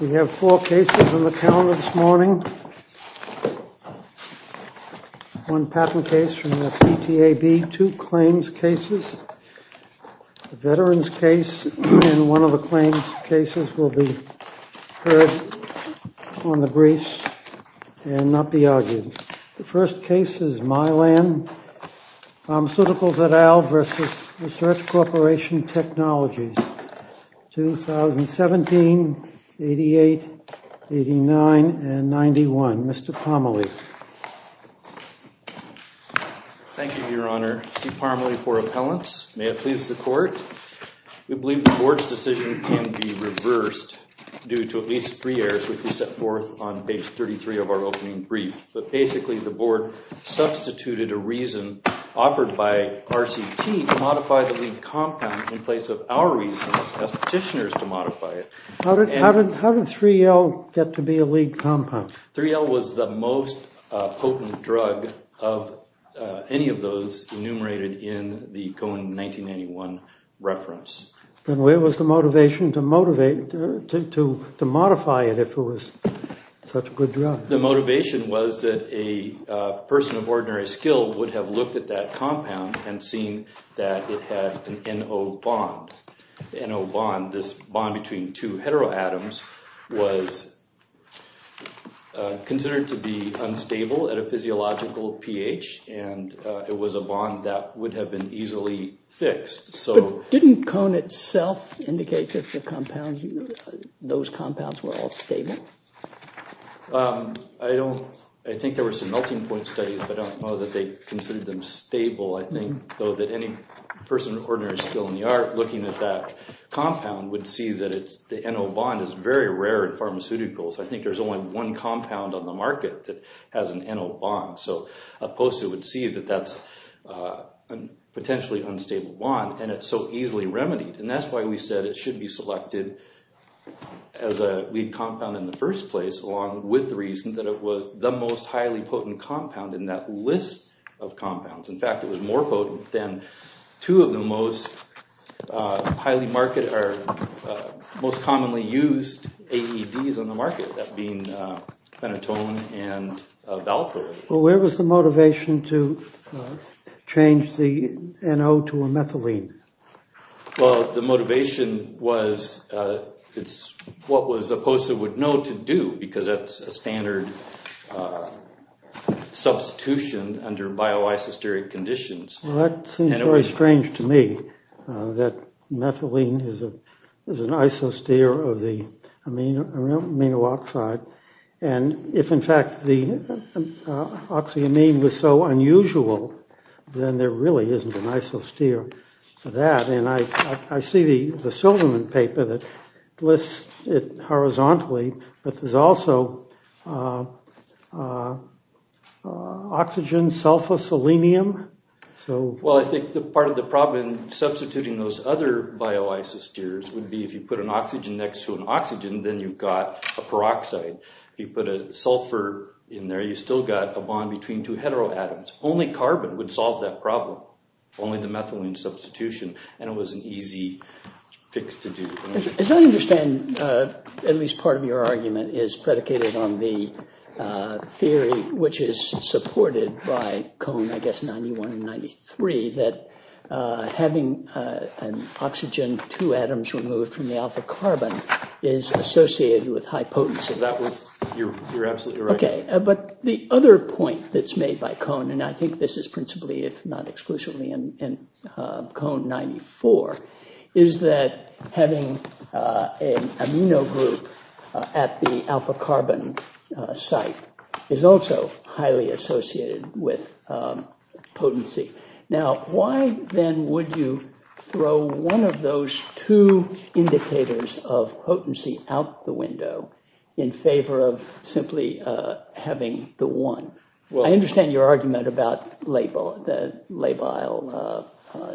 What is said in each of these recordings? We have four cases on the calendar this morning. One patent case from the PTAB, two claims cases, a veteran's case, and one of the claims cases will be heard on the briefs and not be argued. The first case is Mylan Pharmaceuticals et al. v. Research Corporation Technologies, 2017, 88, 89, and 91. Mr. Parmalee. Thank you, Your Honor. Steve Parmalee for appellants. May it please the court. We believe the board's decision can be reversed due to at least three errors which we set forth on page 33 of our opening brief. But basically, the board substituted a reason offered by RCT to modify the lead compound in place of our reasons, asked petitioners to modify it. How did 3L get to be a lead compound? 3L was the most potent drug of any of those enumerated in the Cohen 1991 reference. Then where was the motivation to modify it if it was such a good drug? The motivation was that a person of ordinary skill would have looked at that compound and seen that it had an NO bond. NO bond, this bond between two heteroatoms, was considered to be unstable at a physiological pH, and it was a bond that would have been easily fixed. But didn't Cohen itself indicate that the compounds, those compounds were all stable? I don't, I think there were some melting point studies, but I don't know that they considered them stable. I think, though, that any person of ordinary skill in the art looking at that compound would see that the NO bond is very rare in pharmaceuticals. I think there's only one compound on the market that has an NO bond. So a poster would see that that's a potentially unstable bond, and it's so easily remedied. And that's why we said it should be selected as a lead compound in the first place along with the reason that it was the most highly potent compound in that list of compounds. In fact, it was more potent than two of the most highly market, or most commonly used AEDs on the market, that being phenytoin and valproate. Well, where was the motivation to change the NO to a methylene? Well, the motivation was, it's what was a poster would know to do, because that's a standard substitution under bioisosteic conditions. Well, that seems very strange to me, that methylene is an isosteer of the amino oxide. And if, in fact, the oxyamine was so unusual, then there really isn't an isosteer for that. And I see the Silverman paper that lists it horizontally, but there's also oxygen sulfoselenium. Well, I think part of the problem in substituting those other bioisosteers would be if you put an oxygen next to an oxygen, then you've got a peroxide. If you put a sulfur in there, you've still got a bond between two heteroatoms. Only carbon would solve that problem, only the methylene substitution, and it was an easy fix to do. As I understand, at least part of your argument is predicated on the theory, which is supported by Cone, I guess, 91 and 93, that having an oxygen two atoms removed from the alpha carbon is associated with high potency. That was, you're absolutely right. OK, but the other point that's made by Cone, and I think this is principally, if not exclusively, in Cone, 94, is that having an amino group at the alpha carbon site is also highly associated with potency. Now, why then would you throw one of those two indicators of potency out the window in favor of simply having the one? I understand your argument about the labile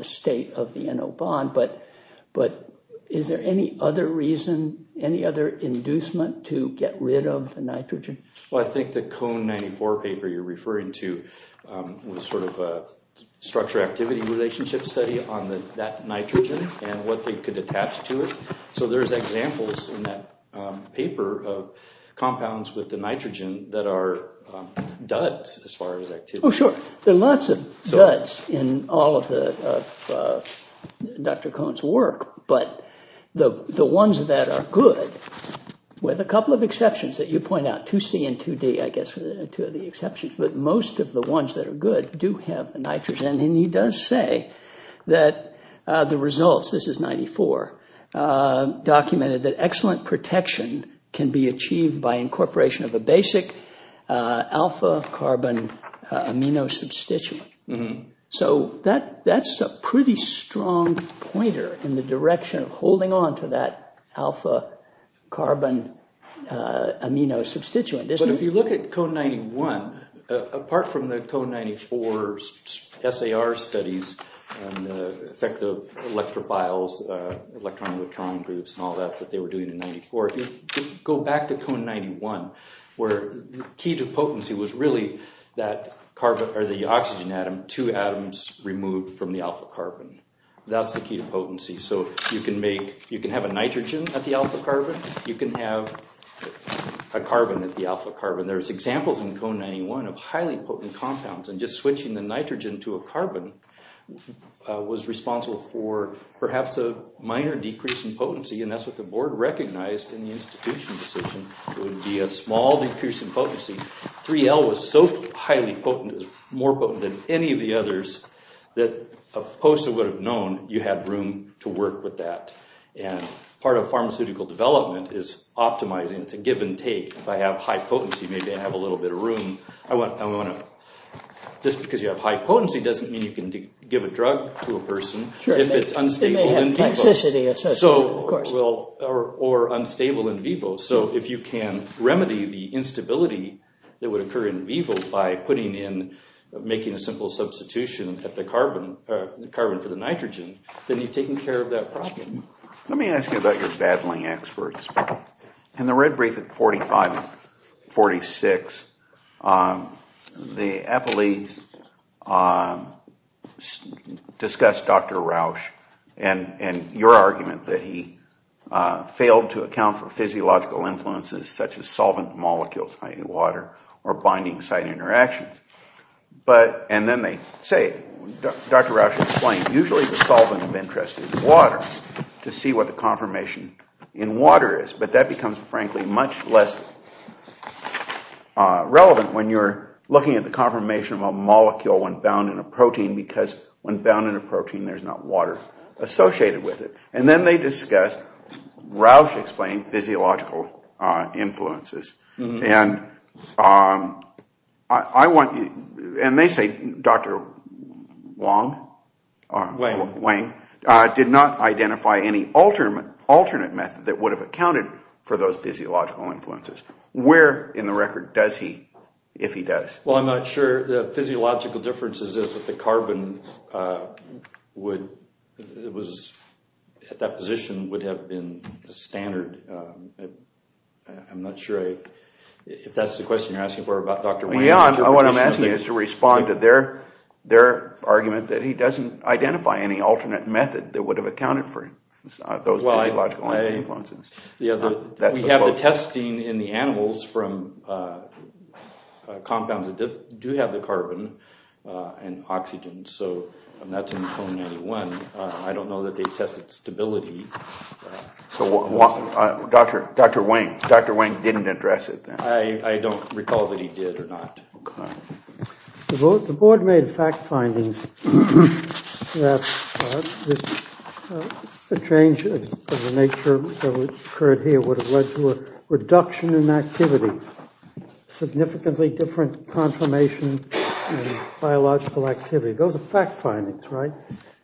state of the NO bond, but is there any other reason, any other inducement to get rid of the nitrogen? Well, I think the Cone, 94 paper you're referring to was sort of a structure activity relationship study on that nitrogen and what they could attach to it. So there's examples in that paper of compounds with the nitrogen that are duds as far as activity. Oh, sure. There are lots of duds in all of Dr. Cone's work, but the ones that are good, with a couple of exceptions that you point out, 2C and 2D, I guess, are two of the exceptions, but most of the ones that are good do have nitrogen. And he does say that the results, this is 94, documented that excellent protection can be achieved by incorporation of a basic alpha carbon amino substituent. So that's a pretty strong pointer in the direction of holding on to that alpha carbon If you look at Cone 91, apart from the Cone 94 SAR studies and the effect of electrophiles, electron-electron groups, and all that that they were doing in 94, if you go back to Cone 91, where the key to potency was really that carbon, or the oxygen atom, two atoms removed from the alpha carbon. That's the key to potency. So you can make, you can have a nitrogen at the alpha carbon. You can have a carbon at the alpha carbon. There's examples in Cone 91 of highly potent compounds, and just switching the nitrogen to a carbon was responsible for perhaps a minor decrease in potency, and that's what the board recognized in the institution decision. It would be a small decrease in potency. 3L was so highly potent, it was more potent than any of the others, that a POSA would have known you had room to work with that. Part of pharmaceutical development is optimizing to give and take. If I have high potency, maybe I have a little bit of room. Just because you have high potency doesn't mean you can give a drug to a person if it's unstable in vivo, or unstable in vivo. So if you can remedy the instability that would occur in vivo by putting in, making a simple substitution at the carbon for the nitrogen, then you've taken care of that Let me ask you about your battling experts. In the red brief at 45 and 46, the epileagues discussed Dr. Rausch and your argument that he failed to account for physiological influences such as solvent molecules, i.e. water, or binding site interactions. And then they say, Dr. Rausch explained, usually the solvent of interest is water. To see what the conformation in water is. But that becomes, frankly, much less relevant when you're looking at the conformation of a molecule when bound in a protein. Because when bound in a protein, there's not water associated with it. And then they discussed, Rausch explained, physiological influences. And they say Dr. Wang did not identify any alternate method that would have accounted for those physiological influences. Where in the record does he, if he does? Well, I'm not sure. The physiological difference is that the carbon at that position would have been standard. I'm not sure if that's the question you're asking for about Dr. Wang. Yeah, what I'm asking is to respond to their argument that he doesn't identify any alternate method that would have accounted for those physiological influences. We have the testing in the animals from compounds that do have the carbon and oxygen. So that's in cone 91. I don't know that they tested stability. So Dr. Wang didn't address it then? I don't recall that he did or not. The board made fact findings that the change of the nature that occurred here would have led to a reduction in activity, significantly different conformation and biological activity. Those are fact findings, right?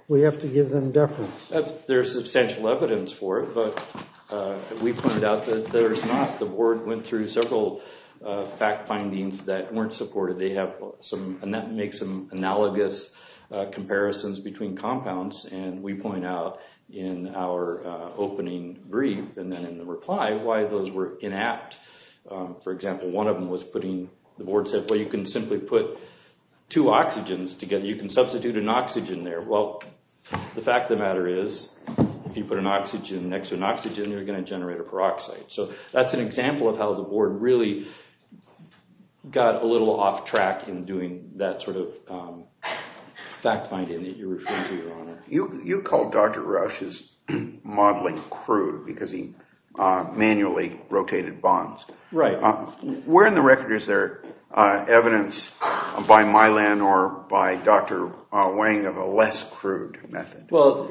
We have to give them deference. There's substantial evidence for it, but we pointed out that there's not. The board went through several fact findings that weren't supported. And that makes some analogous comparisons between compounds. And we point out in our opening brief and then in the reply why those were inapt. For example, one of them was putting, the board said, well, you can simply put two oxygens together. You can substitute an oxygen there. Well, the fact of the matter is if you put an oxygen next to an oxygen, you're going to generate a peroxide. So that's an example of how the board really got a little off track in doing that sort of fact finding that you're referring to, Your Honor. You called Dr. Rush's modeling crude because he manually rotated bonds. Right. Where in the record is there evidence by Mylan or by Dr. Wang of a less crude method? Well,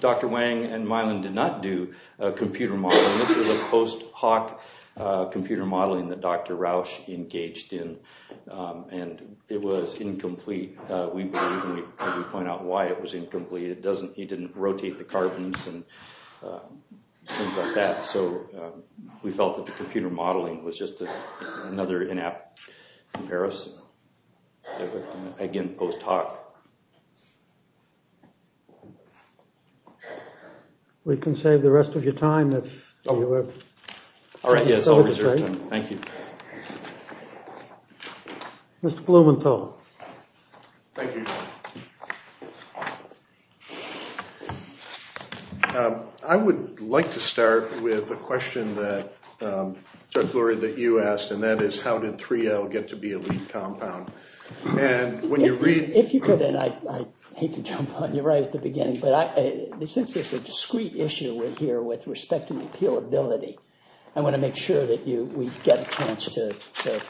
Dr. Wang and Mylan did not do computer modeling. This was a post hoc computer modeling that Dr. Roush engaged in. And it was incomplete. We believe, and we point out why it was incomplete. It doesn't, he didn't rotate the carbons and things like that. So we felt that the computer modeling was just another in-app comparison. Again, post hoc. We can save the rest of your time if you have. All right, yes, I'll reserve time. Thank you. Thank you, Your Honor. I would like to start with a question that, Judge Lurie, that you asked. And that is, how did 3L get to be a lead compound? And when you read- If you could, and I hate to jump on you right at the beginning, but since it's a discrete issue we're here with respect to appealability, I want to make sure that we get a chance to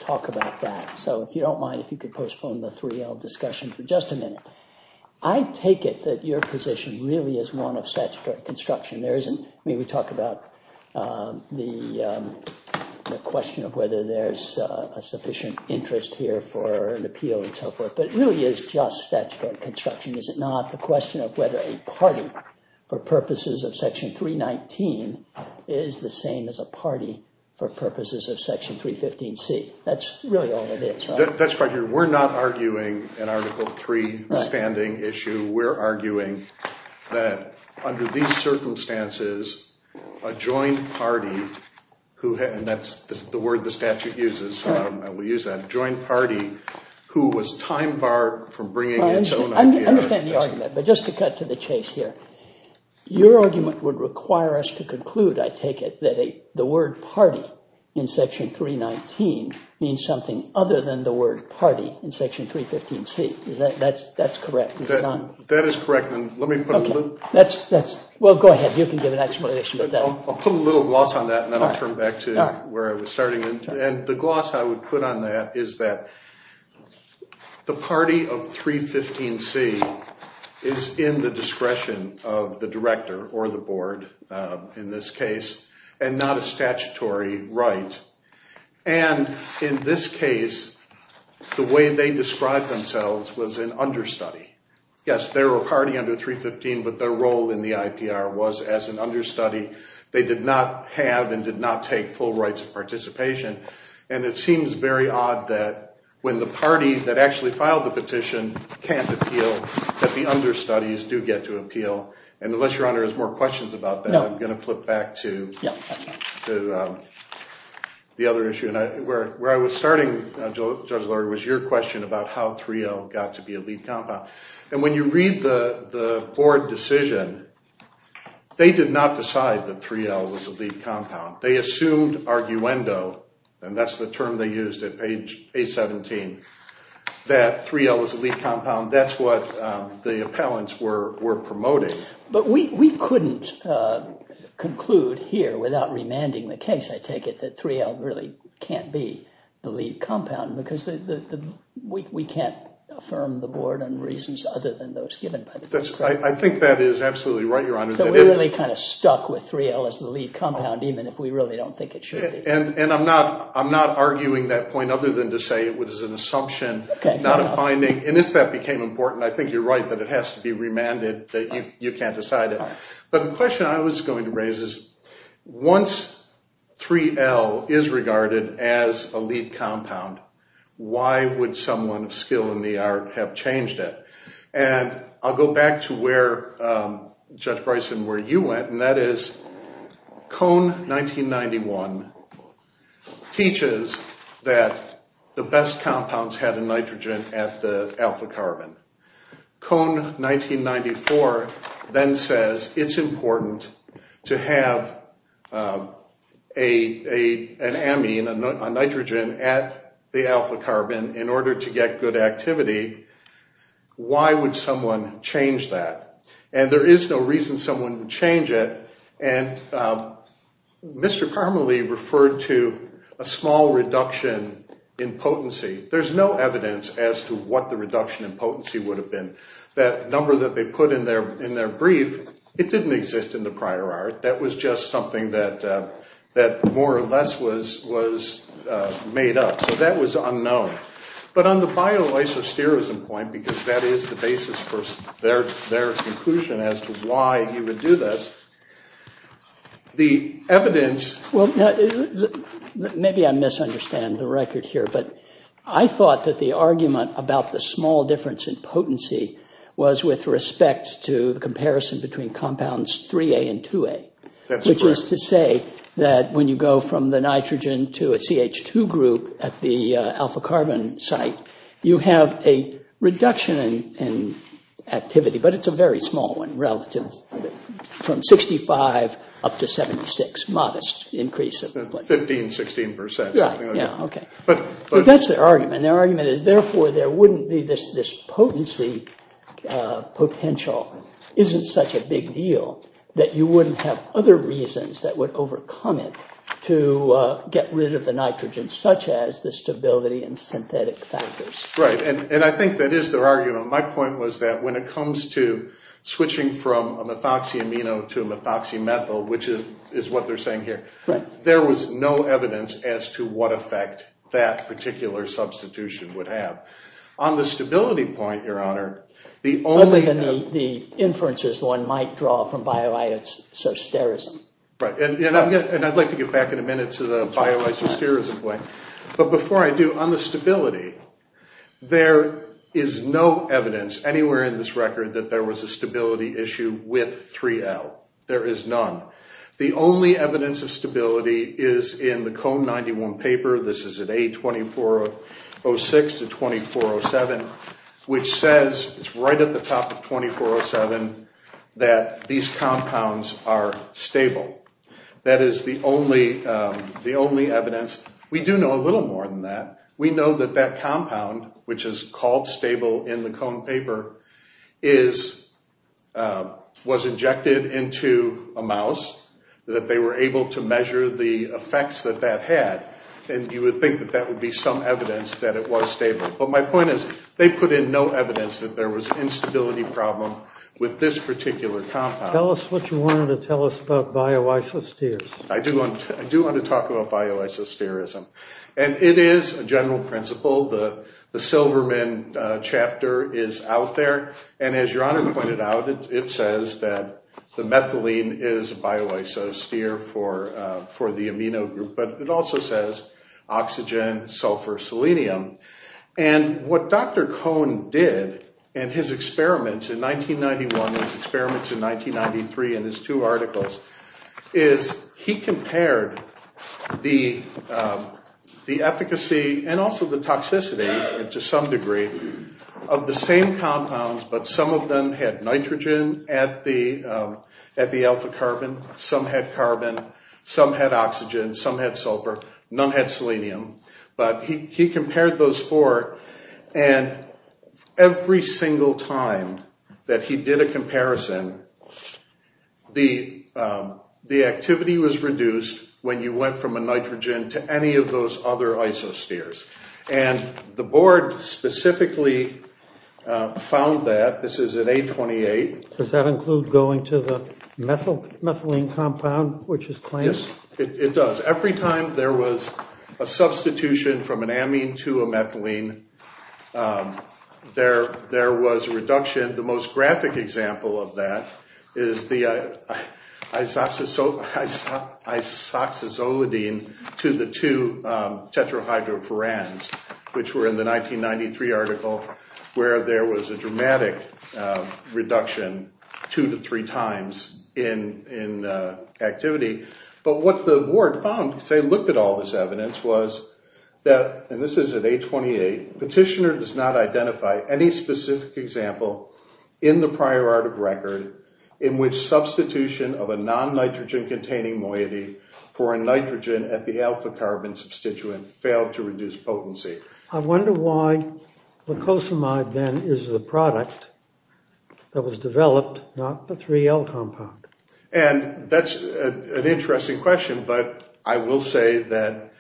talk about that. So if you don't mind, if you could postpone the 3L discussion for just a minute. I take it that your position really is one of statutory construction. There isn't, I mean, we talk about the question of whether there's a sufficient interest here for an appeal and so forth. But it really is just statutory construction, is it not? The question of whether a party for purposes of Section 319 is the same as a party for purposes of Section 315C. That's really all it is, right? That's quite true. We're not arguing an Article 3 standing issue. We're arguing that under these circumstances, a joint party who had- And that's the word the statute uses. I will use that. A joint party who was time barred from bringing its own idea- I understand the argument. But just to cut to the chase here, your argument would require us to conclude, I take it, the word party in Section 319 means something other than the word party in Section 315C. That's correct, is it not? That is correct. Well, go ahead. You can give an explanation of that. I'll put a little gloss on that and then I'll turn back to where I was starting. And the gloss I would put on that is that the party of 315C is in the discretion of the director or the board in this case. And not a statutory right. And in this case, the way they described themselves was an understudy. Yes, they're a party under 315, but their role in the IPR was as an understudy. They did not have and did not take full rights of participation. And it seems very odd that when the party that actually filed the petition can't appeal, that the understudies do get to appeal. And unless your honor has more questions about that, I'm going to flip back to- Yeah, that's fine. To the other issue. And where I was starting, Judge Lurie, was your question about how 3L got to be a lead compound. And when you read the board decision, they did not decide that 3L was a lead compound. They assumed arguendo, and that's the term they used at page 817, that 3L was a lead compound. That's what the appellants were promoting. But we couldn't conclude here without remanding the case, I take it, that 3L really can't be the lead compound, because we can't affirm the board on reasons other than those given by the- I think that is absolutely right, your honor. So we're really kind of stuck with 3L as the lead compound, even if we really don't think it should be. And I'm not arguing that point other than to say it was an assumption, not a finding. And if that became important, I think you're right that it has to be remanded, that you can't decide it. But the question I was going to raise is, once 3L is regarded as a lead compound, why would someone of skill in the art have changed it? And I'll go back to where, Judge Bryson, where you went, and that is Cone 1991 teaches that the best compounds had a nitrogen at the alpha carbon. Cone 1994 then says it's important to have an amine, a nitrogen, at the alpha carbon in order to get good activity. Why would someone change that? And there is no reason someone would change it. And Mr. Carmely referred to a small reduction in potency. There's no evidence as to what the reduction in potency would have been. That number that they put in their brief, it didn't exist in the prior art. That was just something that more or less was made up. So that was unknown. But on the bioisosterism point, because that is the basis for their conclusion as to why you would do this, the evidence... Maybe I misunderstand the record here. But I thought that the argument about the small difference in potency was with respect to the comparison between compounds 3A and 2A, which is to say that when you go from the nitrogen to a CH2 group at the alpha carbon site, you have a reduction in activity. But it's a very small one relative, from 65 up to 76, modest increase. 15, 16%. But that's their argument. Their argument is, therefore, there wouldn't be this potency potential. Isn't such a big deal that you wouldn't have other reasons that would overcome it to get rid of the nitrogen, such as the stability and synthetic factors. Right. And I think that is their argument. My point was that when it comes to switching from a methoxyamino to a methoxymethyl, which is what they're saying here, there was no evidence as to what effect that particular substitution would have. On the stability point, Your Honor, the only... Other than the inferences one might draw from bioisosterism. Right. And I'd like to get back in a minute to the bioisosterism point. But before I do, on the stability, there is no evidence anywhere in this record that there was a stability issue with 3L. There is none. The only evidence of stability is in the Cone 91 paper. This is at A2406-2407, which says, it's right at the top of 2407, that these compounds are stable. That is the only evidence. We do know a little more than that. We know that that compound, which is called stable in the Cone paper, was injected into a mouse, that they were able to measure the effects that that had. And you would think that that would be some evidence that it was stable. But my point is, they put in no evidence that there was instability problem with this particular compound. Tell us what you wanted to tell us about bioisosterism. I do want to talk about bioisosterism. And it is a general principle. The Silverman chapter is out there. And as your honor pointed out, it says that the methylene is bioisostere for the amino group. But it also says oxygen, sulfur, selenium. And what Dr. Cone did in his experiments in 1991, his experiments in 1993, in his two articles, is he compared the efficacy and also the toxicity, to some degree, of the same compounds. But some of them had nitrogen at the alpha carbon. Some had carbon. Some had oxygen. Some had sulfur. None had selenium. But he compared those four. And every single time that he did a comparison, the activity was reduced when you went from a nitrogen to any of those other isosteres. And the board specifically found that. This is in A28. Does that include going to the methylene compound, which is claimed? Yes, it does. Every time there was a substitution from an amine to a methylene, there was a reduction. The most graphic example of that is the isoxazolidine to the two tetrahydroforans, which were in the 1993 article, where there was a dramatic reduction two to three times in activity. But what the board found, because they looked at all this evidence, was that, and this is at A28, petitioner does not identify any specific example in the prior art of record in which substitution of a non-nitrogen-containing moiety for a nitrogen at the alpha carbon substituent failed to reduce potency. I wonder why glucosamide, then, is the product that was developed, not the 3L compound. And that's an interesting question. But I will say that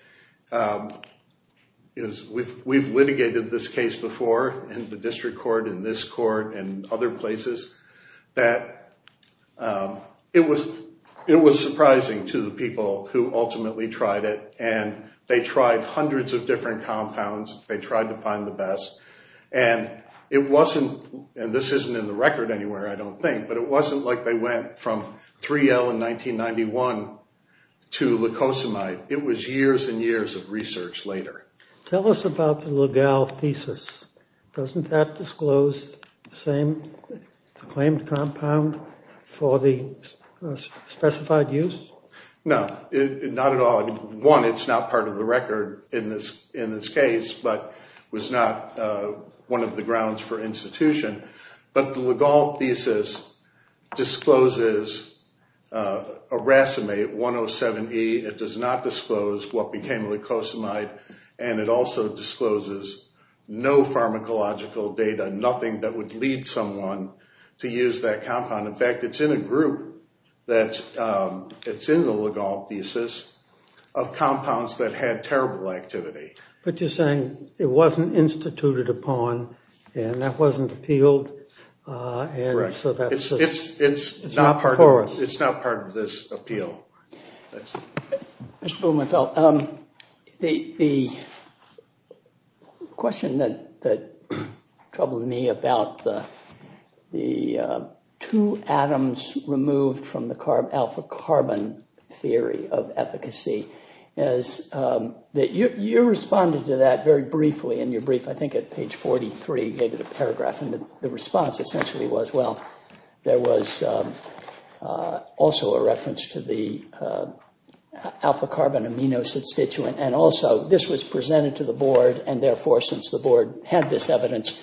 we've litigated this case before in the district court, in this court, and other places, that it was surprising to the people who ultimately tried it. And they tried hundreds of different compounds. They tried to find the best. And it wasn't, and this isn't in the record anywhere, I don't think, but it wasn't like they went from 3L in 1991 to glucosamide. It was years and years of research later. Tell us about the Ligal thesis. Doesn't that disclose the same claimed compound for the specified use? No, not at all. One, it's not part of the record in this case, but was not one of the grounds for institution. But the Ligal thesis discloses aracimate 107E. It does not disclose what became glucosamide. And it also discloses no pharmacological data, nothing that would lead someone to use that compound. In fact, it's in a group that's, it's in the Ligal thesis, of compounds that had terrible activity. But you're saying it wasn't instituted upon, and that wasn't appealed, and so that's... It's not part of this appeal. Mr. Blumenfeld, the question that troubled me about the two atoms removed from the alpha carbon theory of efficacy is that you responded to that very briefly in your brief. I think at page 43, you gave it a paragraph. And the response essentially was, well, there was also a reference to the alpha carbon amino substituent. And also, this was presented to the board. And therefore, since the board had this evidence,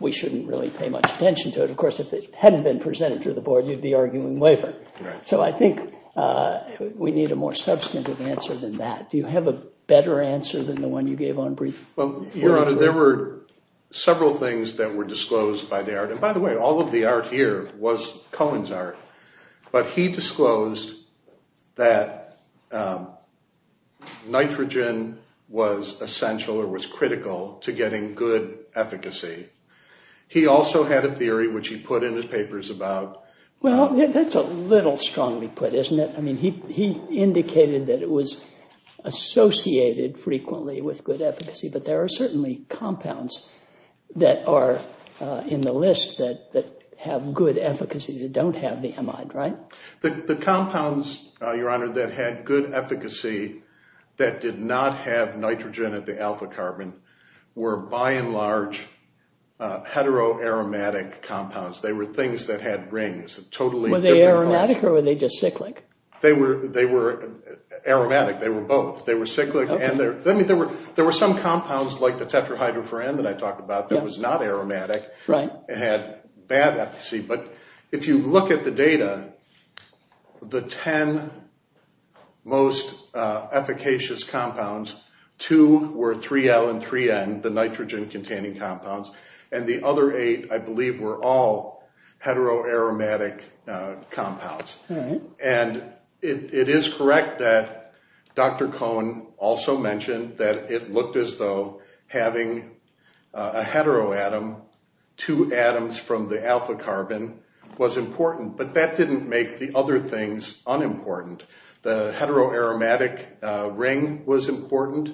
we shouldn't really pay much attention to it. Of course, if it hadn't been presented to the board, you'd be arguing waiver. So I think we need a more substantive answer than that. Do you have a better answer than the one you gave on brief? Well, Your Honor, there were several things that were disclosed by the art. And by the way, all of the art here was Cohen's art. But he disclosed that nitrogen was essential or was critical to getting good efficacy. He also had a theory, which he put in his papers about. Well, that's a little strongly put, isn't it? I mean, he indicated that it was associated frequently with good efficacy. But there are certainly compounds that are in the list that have good efficacy that don't have the amide, right? The compounds, Your Honor, that had good efficacy that did not have nitrogen at the alpha carbon were, by and large, heteroaromatic compounds. They were things that had rings. Were they aromatic or were they just cyclic? They were aromatic. They were both. They were cyclic. And there were some compounds like the tetrahydroforan that I talked about that was not aromatic and had bad efficacy. But if you look at the data, the 10 most efficacious compounds, two were 3L and 3N. The nitrogen-containing compounds. And the other eight, I believe, were all heteroaromatic compounds. And it is correct that Dr. Cohen also mentioned that it looked as though having a heteroatom, two atoms from the alpha carbon, was important. But that didn't make the other things unimportant. The heteroaromatic ring was important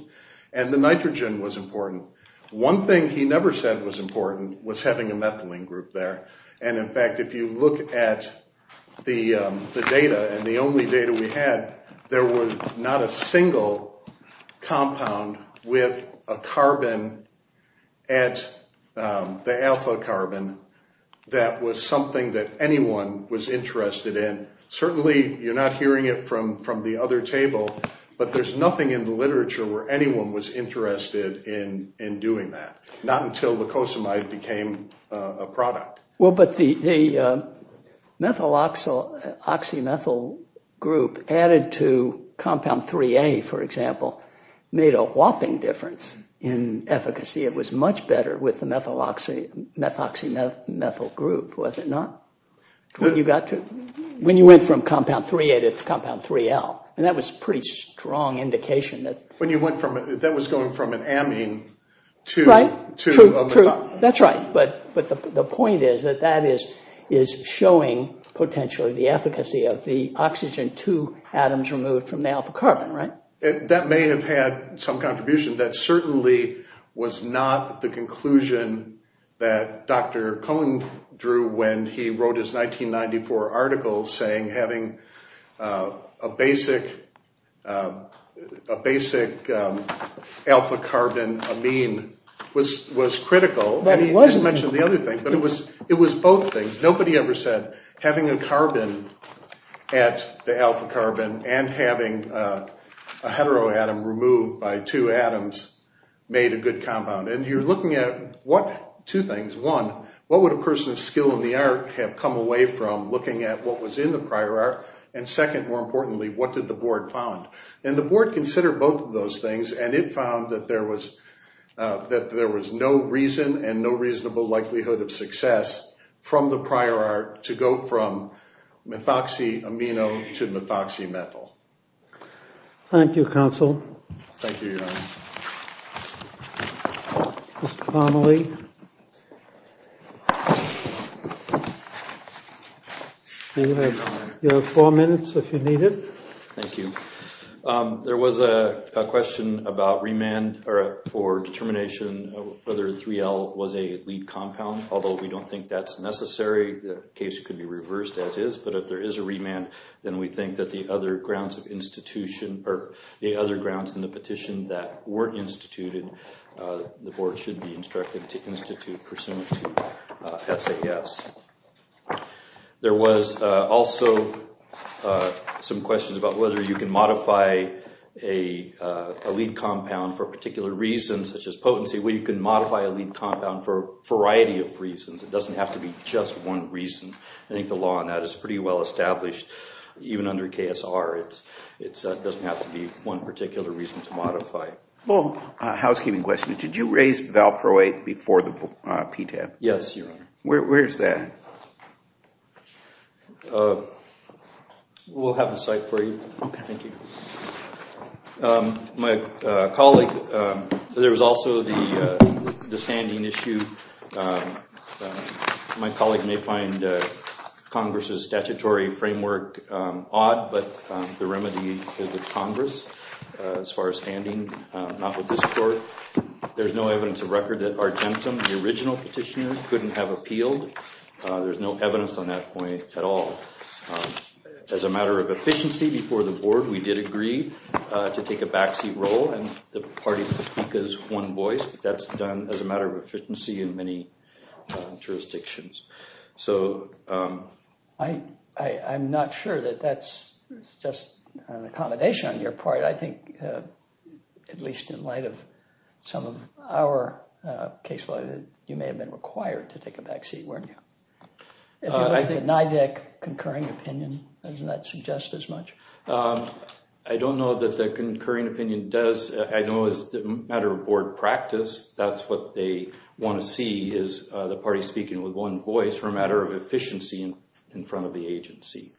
and the nitrogen was important. One thing he never said was important was having a methylene group there. And in fact, if you look at the data and the only data we had, there was not a single compound with a carbon at the alpha carbon that was something that anyone was interested in. Certainly, you're not hearing it from the other table. But there's nothing in the literature where anyone was interested in doing that. Not until glucosamide became a product. Well, but the methyloxymethyl group added to compound 3A, for example, made a whopping difference in efficacy. It was much better with the methyloxymethyl group, was it not? When you got to, when you went from compound 3A to compound 3L. And that was a pretty strong indication that. When you went from, that was going from an amine to. Right, true, true. That's right. But the point is that that is showing potentially the efficacy of the oxygen, two atoms removed from the alpha carbon, right? That may have had some contribution. That certainly was not the conclusion that Dr. Cohen drew when he wrote his 1994 article saying having a basic alpha carbon amine was critical. And he mentioned the other thing, but it was both things. Nobody ever said having a carbon at the alpha carbon and having a heteroatom removed by two atoms made a good compound. And you're looking at what, two things. One, what would a person of skill in the art have come away from looking at what was in the prior art? And second, more importantly, what did the board found? And the board considered both of those things, and it found that there was no reason and no reasonable likelihood of success from the prior art to go from methoxy amino to methoxymethyl. Thank you, counsel. Thank you, your honor. Mr. Connolly. You have four minutes if you need it. Thank you. There was a question about remand for determination of whether 3L was a lead compound. Although we don't think that's necessary, the case could be reversed as is. But if there is a remand, then we think that the other grounds of institution, or the other grounds in the petition that weren't instituted, the board should be instructed to institute pursuant to SAS. There was also some questions about whether you can modify a lead compound for particular reasons such as potency. Well, you can modify a lead compound for a variety of reasons. It doesn't have to be just one reason. I think the law on that is pretty well established. Even under KSR, it doesn't have to be one particular reason to modify. Well, housekeeping question. Did you raise valproate before the PTAP? Yes, your honor. Where is that? We'll have the site for you. Okay. Thank you. My colleague, there was also the standing issue. My colleague may find Congress's statutory framework odd, but the remedy is with Congress as far as standing, not with this court. There's no evidence of record that Argentum, the original petitioner, couldn't have appealed. There's no evidence on that point at all. As a matter of efficiency before the board, we did agree to take a backseat role, and the parties to speak as one voice. That's done as a matter of efficiency in many jurisdictions. I'm not sure that that's just an accommodation on your part. I think, at least in light of some of our case law, that you may have been required to take a backseat, weren't you? If you look at the NIDAC concurring opinion, doesn't that suggest as much? I don't know that the concurring opinion does. I know it's a matter of board practice. That's what they want to see is the party speaking with one voice for a matter of efficiency in front of the agency.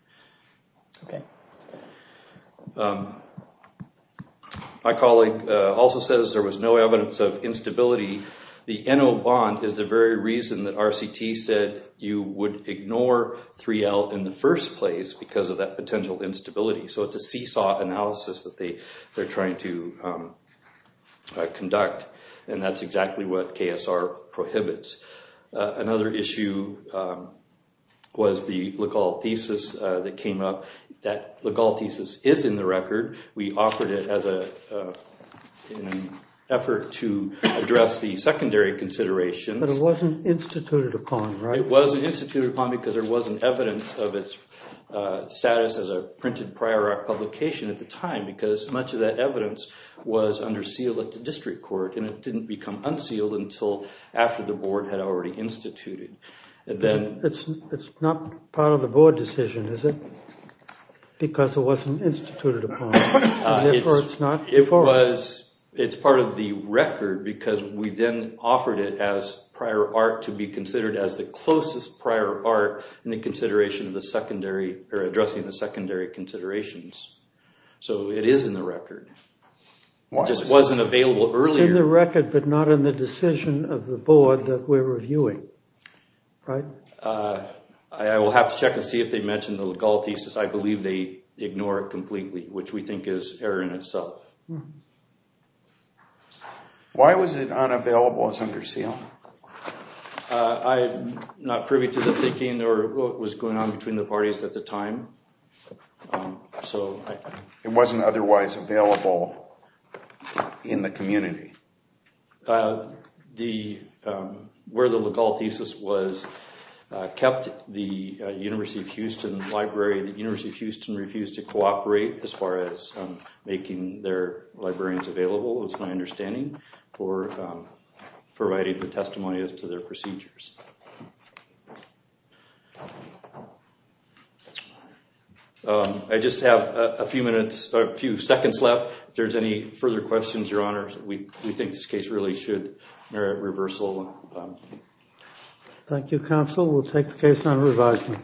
Okay. My colleague also says there was no evidence of instability. The NO bond is the very reason that RCT said you would ignore 3L in the first place because of that potential instability. It's a seesaw analysis that they're trying to conduct, and that's exactly what KSR prohibits. Another issue was the Ligal thesis that came up. That Ligal thesis is in the record. We offered it as an effort to address the secondary considerations. It wasn't instituted upon, right? It wasn't instituted upon because there wasn't evidence of its status as a printed prior art publication at the time because much of that evidence was under seal at the district court, and it didn't become unsealed until after the board had already instituted. It's not part of the board decision, is it? Because it wasn't instituted upon. It's part of the record because we then offered it as prior art to be considered as the closest prior art in the consideration of the secondary or addressing the secondary considerations. So it is in the record. It just wasn't available earlier. It's in the record but not in the decision of the board that we're reviewing, right? I will have to check and see if they mentioned the Ligal thesis. I believe they ignore it completely, which we think is error in itself. Why was it unavailable as under seal? I'm not privy to the thinking or what was going on between the parties at the time. It wasn't otherwise available in the community? Where the Ligal thesis was kept, the University of Houston library, the University of Houston refused to cooperate as far as making their librarians available, it's my understanding, for providing the testimonials to their procedures. I just have a few minutes, a few seconds left. If there's any further questions, Your Honor, we think this case really should merit reversal. Thank you, counsel. We'll take the case on revising.